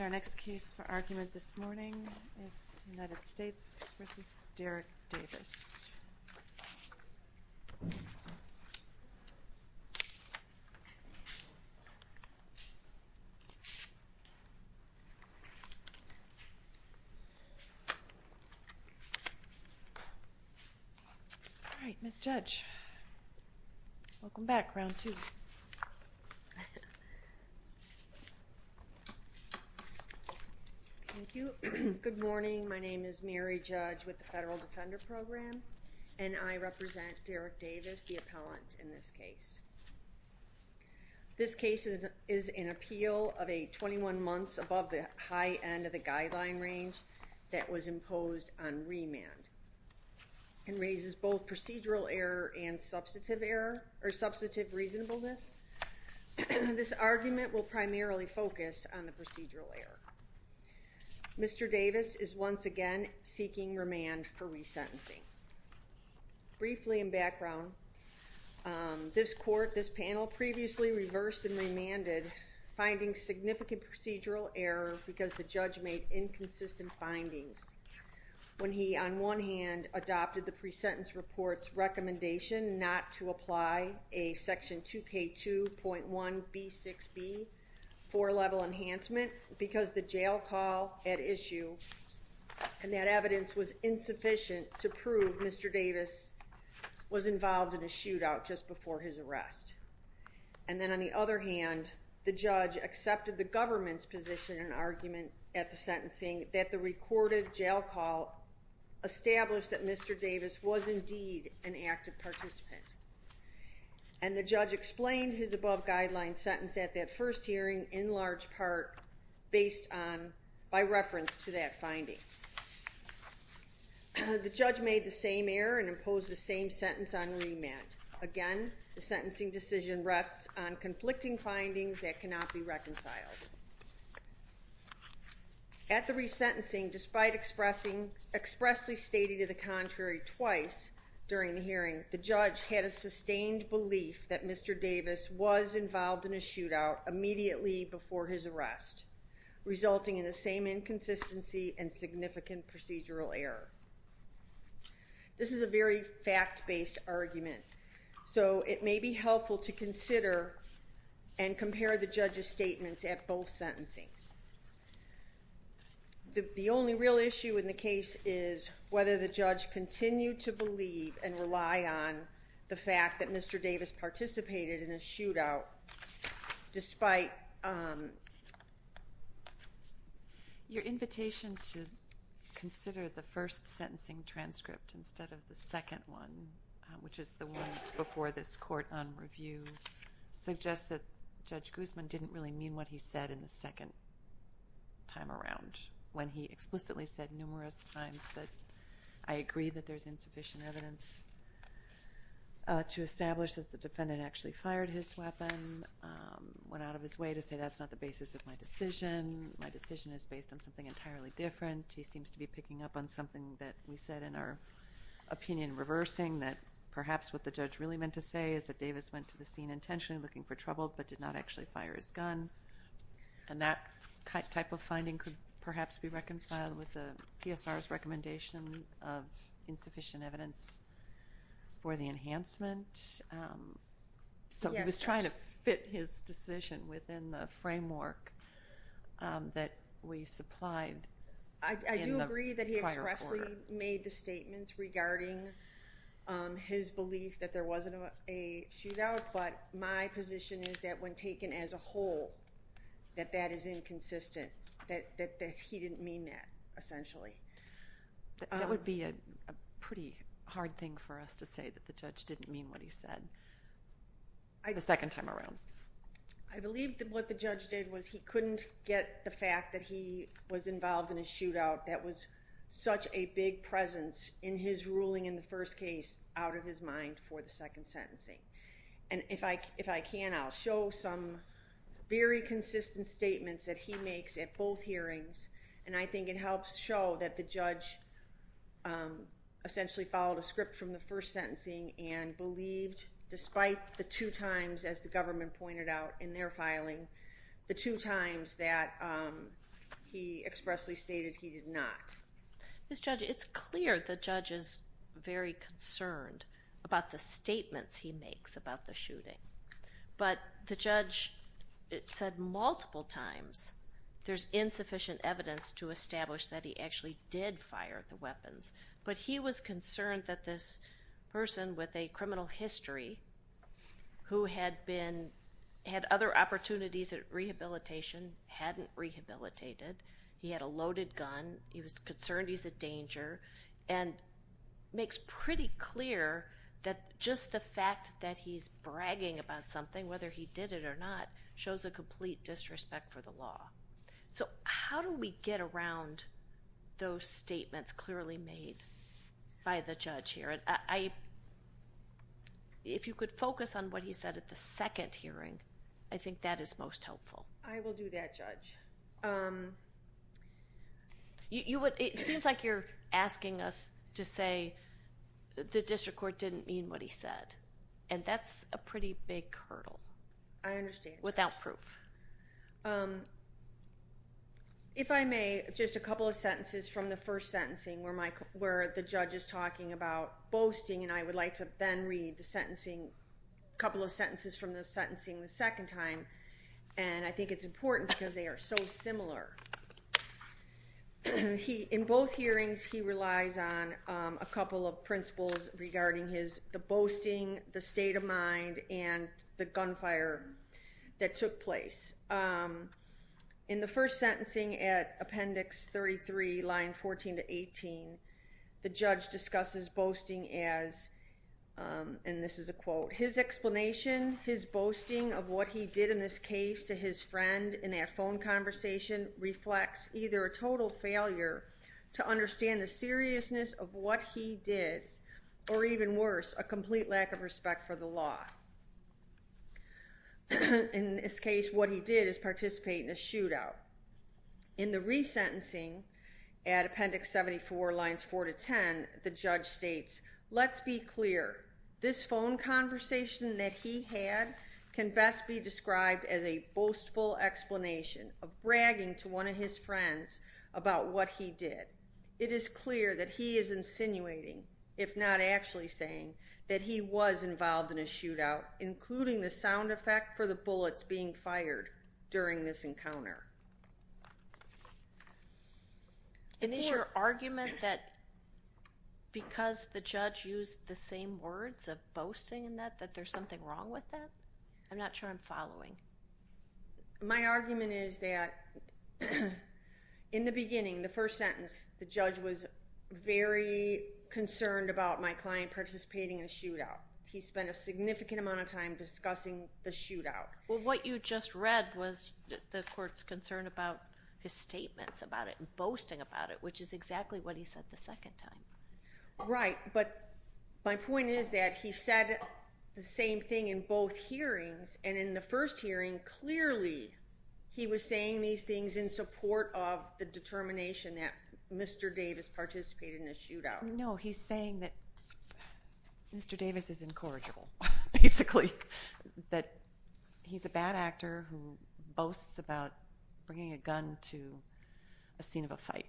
All right, Ms. Judge, welcome back. Thank you. Good morning. My name is Mary Judge with the Federal Defender Program and I represent Derrick Davis, the appellant in this case. This case is an appeal of a 21 months above the high end of the guideline range that was imposed on remand and raises both procedural error and substantive error or substantive reasonableness. This argument will primarily focus on the procedural error. Mr. Davis is once again seeking remand for resentencing. Briefly, in background, this court, this panel previously reversed and remanded finding significant procedural error because the judge made inconsistent findings when he, on one hand, adopted the presentence reports recommendation not to apply a section 2K2.1B6B for level enhancement because the jail call at issue and that evidence was insufficient to prove Mr. Davis was involved in a shootout just before his arrest. And then on the other hand, the judge accepted the government's position and argument at the sentencing that the recorded jail call established that Mr. Davis was indeed an active participant. And the judge explained his above guideline sentence at that first hearing in large part based on, by reference to that finding. The judge made the same error and imposed the same sentence on remand. Again, the sentencing decision rests on conflicting findings that cannot be reconciled. At the resentencing, despite expressing, expressly stating to the contrary twice during the hearing, the judge had a sustained belief that Mr. Davis was involved in a shootout immediately before his arrest, resulting in the same inconsistency and significant procedural error. This is a very fact-based argument, so it may be helpful to consider and compare the judge's statements at both sentencings. The only real issue in the case is whether the judge continued to believe and rely on the fact that Mr. Davis participated in a shootout despite... Your invitation to consider the first sentencing transcript instead of the second one, which is the one before this court on review, suggests that Judge Guzman didn't really mean what he said in the second time around, when he explicitly said numerous times that, I agree that there's insufficient evidence to establish that the defendant actually fired his weapon, went out of his way to say that's not the basis of my decision, my decision is based on something entirely different. He seems to be picking up on something that we said in our opinion reversing, that perhaps what the judge really meant to say is that Davis went to the scene intentionally looking for trouble, but did not actually fire his gun, and that type of finding could perhaps be reconciled with the PSR's recommendation of insufficient evidence for the enhancement. So he was trying to fit his decision within the framework that we supplied in the prior quarter. He explicitly made the statements regarding his belief that there wasn't a shootout, but my position is that when taken as a whole, that that is inconsistent, that he didn't mean that essentially. That would be a pretty hard thing for us to say that the judge didn't mean what he said the second time around. I believe that what the judge did was he couldn't get the fact that he was involved in a shootout that was such a big presence in his ruling in the first case out of his mind for the second sentencing. And if I can, I'll show some very consistent statements that he makes at both hearings, and I think it helps show that the judge essentially followed a script from the first sentencing and believed, despite the two times, as the government pointed out in their filing, the he expressly stated he did not. Ms. Judge, it's clear the judge is very concerned about the statements he makes about the shooting, but the judge said multiple times there's insufficient evidence to establish that he actually did fire the weapons, but he was concerned that this person with a criminal history who had other opportunities at rehabilitation, hadn't rehabilitated, he had a loaded gun, he was concerned he's a danger, and makes pretty clear that just the fact that he's bragging about something, whether he did it or not, shows a complete disrespect for the law. So, how do we get around those statements clearly made by the judge here? And if you could focus on what he said at the second hearing, I think that is most helpful. I will do that, Judge. It seems like you're asking us to say the district court didn't mean what he said. And that's a pretty big hurdle. I understand. Without proof. If I may, just a couple of sentences from the first sentencing where the judge is talking about boasting, and I would like to then read the sentencing, a couple of sentences from the sentencing the second time, and I think it's important because they are so similar. In both hearings, he relies on a couple of principles regarding the boasting, the state of mind, and the gunfire that took place. And in the first sentencing at Appendix 33, line 14 to 18, the judge discusses boasting as, and this is a quote, his explanation, his boasting of what he did in this case to his friend in that phone conversation reflects either a total failure to understand the seriousness of what he did, or even worse, a complete lack of respect for the law. In this case, what he did is participate in a shootout. In the resentencing at Appendix 74, lines 4 to 10, the judge states, let's be clear, this phone conversation that he had can best be described as a boastful explanation of bragging to one of his friends about what he did. It is clear that he is insinuating, if not actually saying, that he was involved in a shootout, including the sound effect for the bullets being fired during this encounter. And is your argument that because the judge used the same words of boasting that there's something wrong with that? I'm not sure I'm following. My argument is that in the beginning, the first sentence, the judge was very concerned about my client participating in a shootout. He spent a significant amount of time discussing the shootout. Well, what you just read was the court's concern about his statements about it and boasting about it, which is exactly what he said the second time. Right. But my point is that he said the same thing in both hearings, and in the first hearing, clearly, he was saying these things in support of the determination that Mr. Davis participated in a shootout. No, he's saying that Mr. Davis is incorrigible, basically, that he's a bad actor who boasts about bringing a gun to a scene of a fight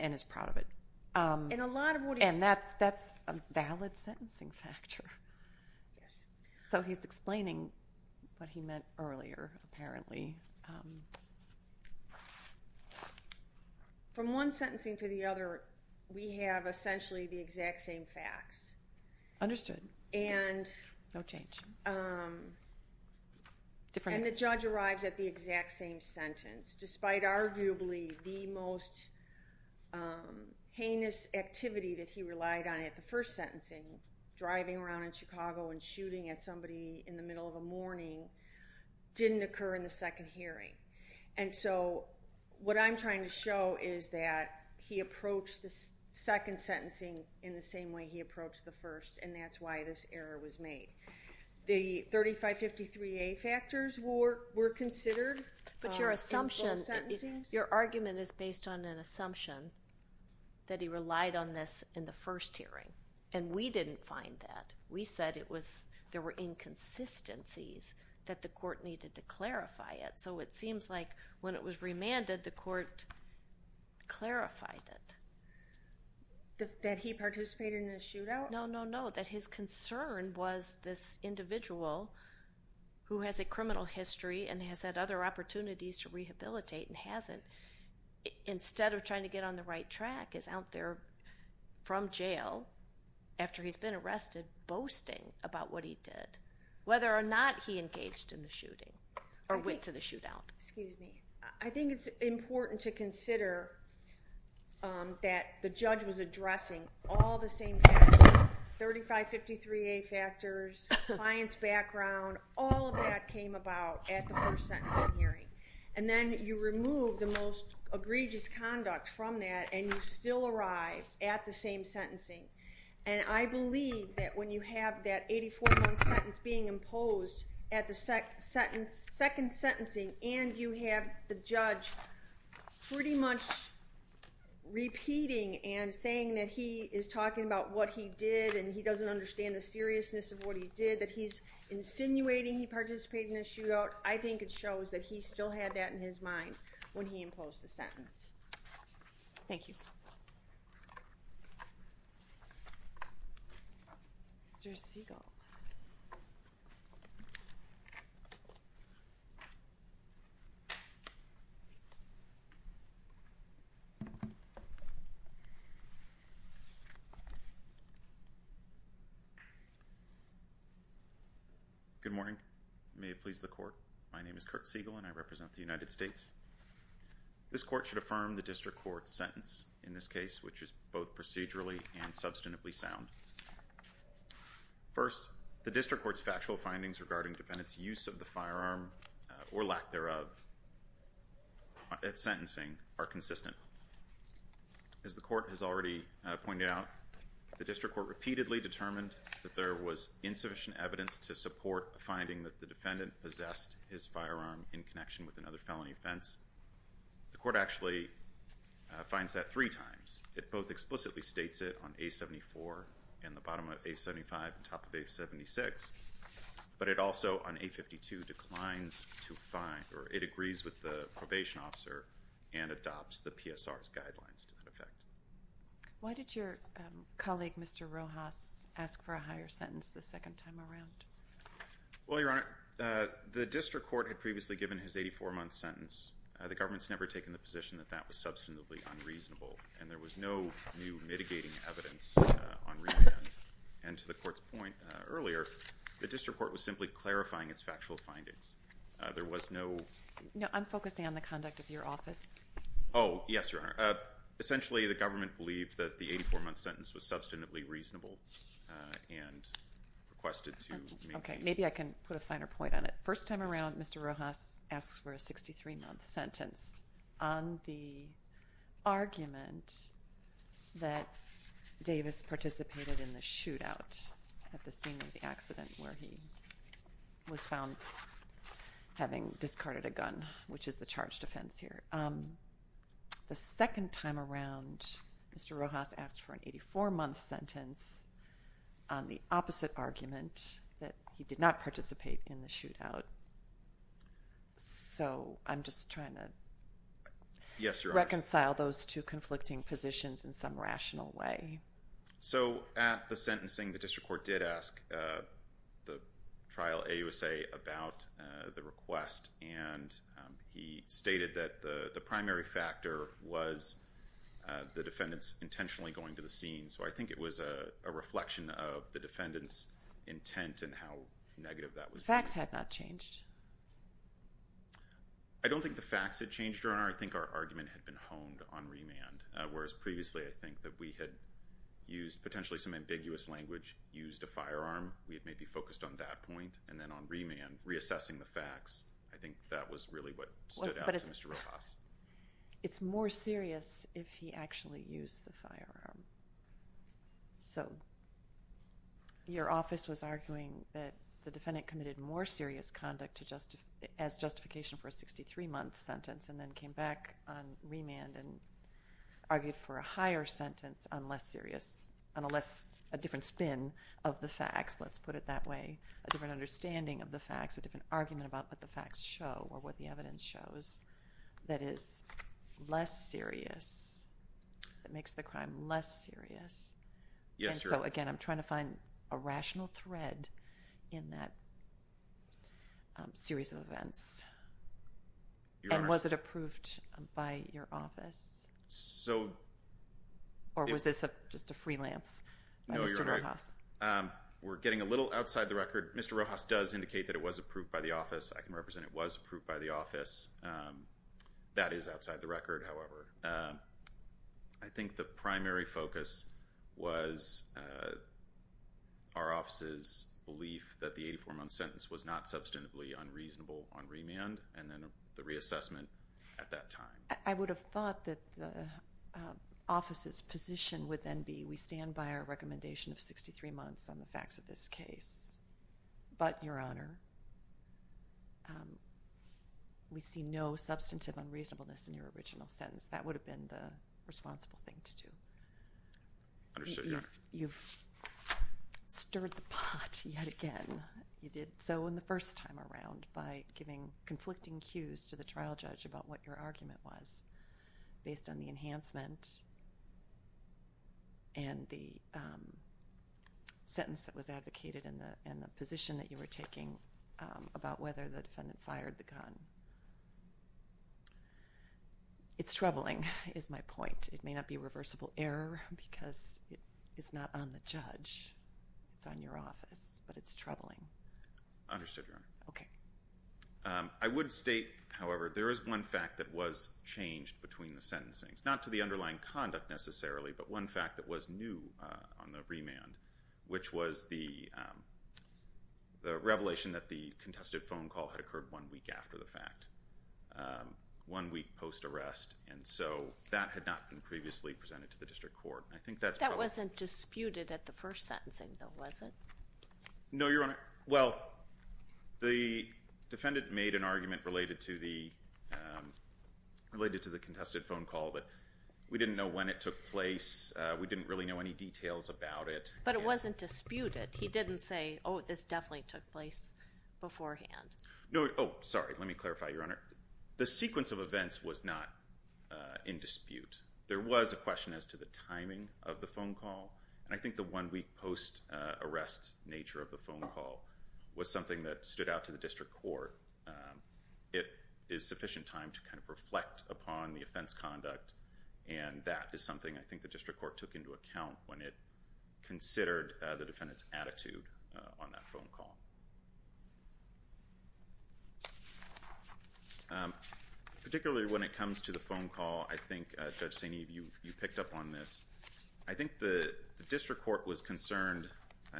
and is proud of it. And that's a valid sentencing factor. So he's explaining what he meant earlier, apparently. From one sentencing to the other, we have essentially the exact same facts. Understood. No change. And the judge arrives at the exact same sentence, despite arguably the most heinous activity that he relied on at the first sentencing, driving around in Chicago and shooting at And so, what I'm trying to show is that he approached the second sentencing in the same way he approached the first, and that's why this error was made. The 3553A factors were considered in both sentencings? Your argument is based on an assumption that he relied on this in the first hearing. And we didn't find that. We said there were inconsistencies that the court needed to clarify it. So it seems like when it was remanded, the court clarified it. That he participated in a shootout? No, no, no. That his concern was this individual who has a criminal history and has had other opportunities to rehabilitate and hasn't, instead of trying to get on the right track, is out there from arrested, boasting about what he did, whether or not he engaged in the shooting or went to the shootout. Excuse me. I think it's important to consider that the judge was addressing all the same factors, 3553A factors, client's background, all of that came about at the first sentencing hearing. And then you remove the most egregious conduct from that, and you still arrive at the same sentencing. And I believe that when you have that 84-month sentence being imposed at the second sentencing and you have the judge pretty much repeating and saying that he is talking about what he did and he doesn't understand the seriousness of what he did, that he's insinuating he participated in a shootout, I think it shows that he still had that in his mind when he imposed the sentence. Thank you. Mr. Segal. Good morning. May it please the Court, my name is Kirk Segal and I represent the United States. This court should affirm the district court's sentence in this case, which is both procedurally and substantively sound. First, the district court's factual findings regarding defendant's use of the firearm or lack thereof at sentencing are consistent. As the court has already pointed out, the district court repeatedly determined that there was insufficient evidence to support the finding that the defendant possessed his firearm in connection with another felony offense. The court actually finds that three times. It both explicitly states it on A-74 and the bottom of A-75 and top of A-76, but it also on A-52 declines to find or it agrees with the probation officer and adopts the PSR's guidelines to that effect. Why did your colleague, Mr. Rojas, ask for a higher sentence the second time around? Well, Your Honor, the district court had previously given his 84-month sentence. The government's never taken the position that that was substantively unreasonable and there was no new mitigating evidence on remand. And to the court's point earlier, the district court was simply clarifying its factual findings. There was no... No, I'm focusing on the conduct of your office. Oh, yes, Your Honor. Essentially, the government believed that the 84-month sentence was substantively reasonable and requested to make... Okay. Maybe I can put a finer point on it. The first time around, Mr. Rojas asked for a 63-month sentence on the argument that Davis participated in the shootout at the scene of the accident where he was found having discarded a gun, which is the charged offense here. The second time around, Mr. Rojas asked for an 84-month sentence on the opposite argument that he did not participate in the shootout. So, I'm just trying to reconcile those two conflicting positions in some rational way. So at the sentencing, the district court did ask the trial AUSA about the request and he stated that the primary factor was the defendant's intentionally going to the scene. So I think it was a reflection of the defendant's intent and how negative that was being. Facts had not changed. I don't think the facts had changed, Your Honor. I think our argument had been honed on remand, whereas previously I think that we had used potentially some ambiguous language, used a firearm, we had maybe focused on that point, and then on remand, reassessing the facts, I think that was really what stood out to Mr. Rojas. It's more serious if he actually used the firearm. So your office was arguing that the defendant committed more serious conduct as justification for a 63-month sentence and then came back on remand and argued for a higher sentence on a different spin of the facts, let's put it that way, a different understanding of what the facts show or what the evidence shows that is less serious, that makes the crime less serious. Yes, Your Honor. And so, again, I'm trying to find a rational thread in that series of events. And was it approved by your office or was this just a freelance by Mr. Rojas? No, Your Honor. We're getting a little outside the record. Mr. Rojas does indicate that it was approved by the office. I can represent it was approved by the office. That is outside the record, however. I think the primary focus was our office's belief that the 84-month sentence was not substantively unreasonable on remand and then the reassessment at that time. I would have thought that the office's position would then be we stand by our recommendation of 63 months on the facts of this case. But, Your Honor, we see no substantive unreasonableness in your original sentence. That would have been the responsible thing to do. Understood, Your Honor. You've stirred the pot yet again, you did so in the first time around by giving conflicting cues to the trial judge about what your argument was based on the enhancement and the sentence that was advocated and the position that you were taking about whether the defendant fired the gun. It's troubling, is my point. It may not be reversible error because it's not on the judge, it's on your office, but it's troubling. Understood, Your Honor. Okay. I would state, however, there is one fact that was changed between the sentencing. Not to the underlying conduct necessarily, but one fact that was new on the remand, which was the revelation that the contested phone call had occurred one week after the fact, one week post-arrest, and so that had not been previously presented to the district court. I think that's probably... That wasn't disputed at the first sentencing, though, was it? No, Your Honor. Well, the defendant made an argument related to the contested phone call that we didn't know when it took place, we didn't really know any details about it. But it wasn't disputed. He didn't say, oh, this definitely took place beforehand. No. Oh, sorry. Let me clarify, Your Honor. The sequence of events was not in dispute. There was a question as to the timing of the phone call, and I think the one-week post-arrest nature of the phone call was something that stood out to the district court. It is sufficient time to kind of reflect upon the offense conduct, and that is something I think the district court took into account when it considered the defendant's attitude on that phone call. Particularly when it comes to the phone call, I think, Judge Saini, you picked up on this. I think the district court was concerned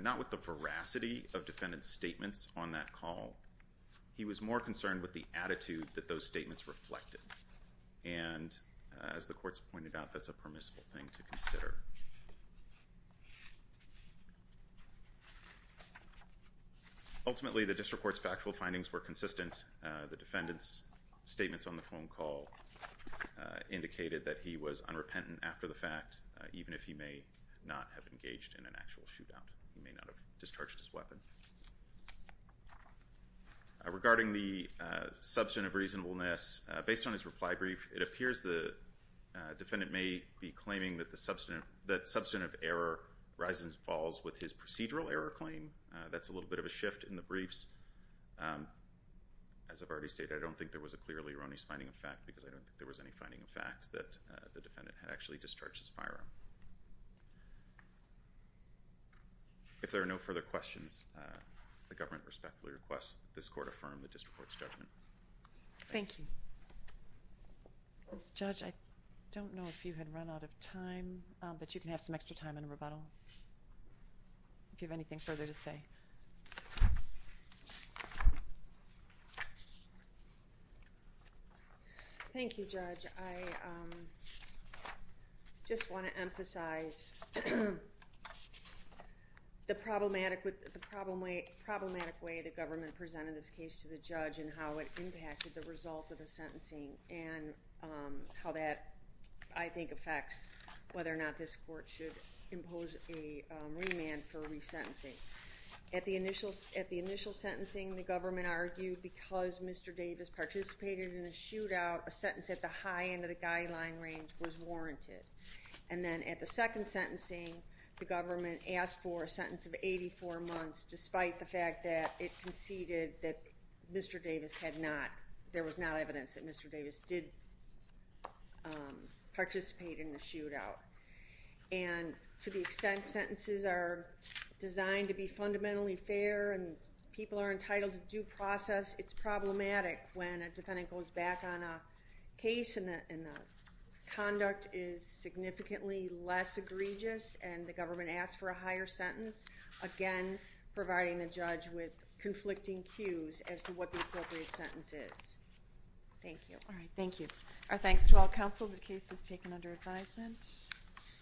not with the veracity of defendant's statements on that call. He was more concerned with the attitude that those statements reflected. And as the court's pointed out, that's a permissible thing to consider. Ultimately, the district court's factual findings were consistent. The defendant's statements on the phone call indicated that he was unrepentant after the fact, even if he may not have engaged in an actual shootout. He may not have discharged his weapon. Regarding the substantive reasonableness, based on his reply brief, it appears the defendant may be claiming that substantive error rises and falls with his procedural error claim. That's a little bit of a shift in the briefs. As I've already stated, I don't think there was a clearly erroneous finding of fact because I don't think there was any finding of fact that the defendant had actually discharged his firearm. If there are no further questions, the government respectfully requests that this court affirm the district court's judgment. Thank you. Judge, I don't know if you had run out of time, but you can have some extra time in rebuttal if you have anything further to say. Thank you, Judge. I just want to emphasize the problematic way the government presented this case to the judge and how it impacted the result of the sentencing and how that I think affects whether or not this court should impose a remand for resentencing. At the initial sentencing, the government argued because Mr. Davis participated in the shootout, a sentence at the high end of the guideline range was warranted. Then at the second sentencing, the government asked for a sentence of 84 months despite the fact that it conceded that there was not evidence that Mr. Davis did participate in the shootout. To the extent sentences are designed to be fundamentally fair and people are entitled to due process, it's problematic when a defendant goes back on a case and the conduct is significantly less egregious and the government asks for a higher sentence. Again, providing the judge with conflicting cues as to what the appropriate sentence is. Thank you. Thank you. Our thanks to all counsel. The case is taken under advisement.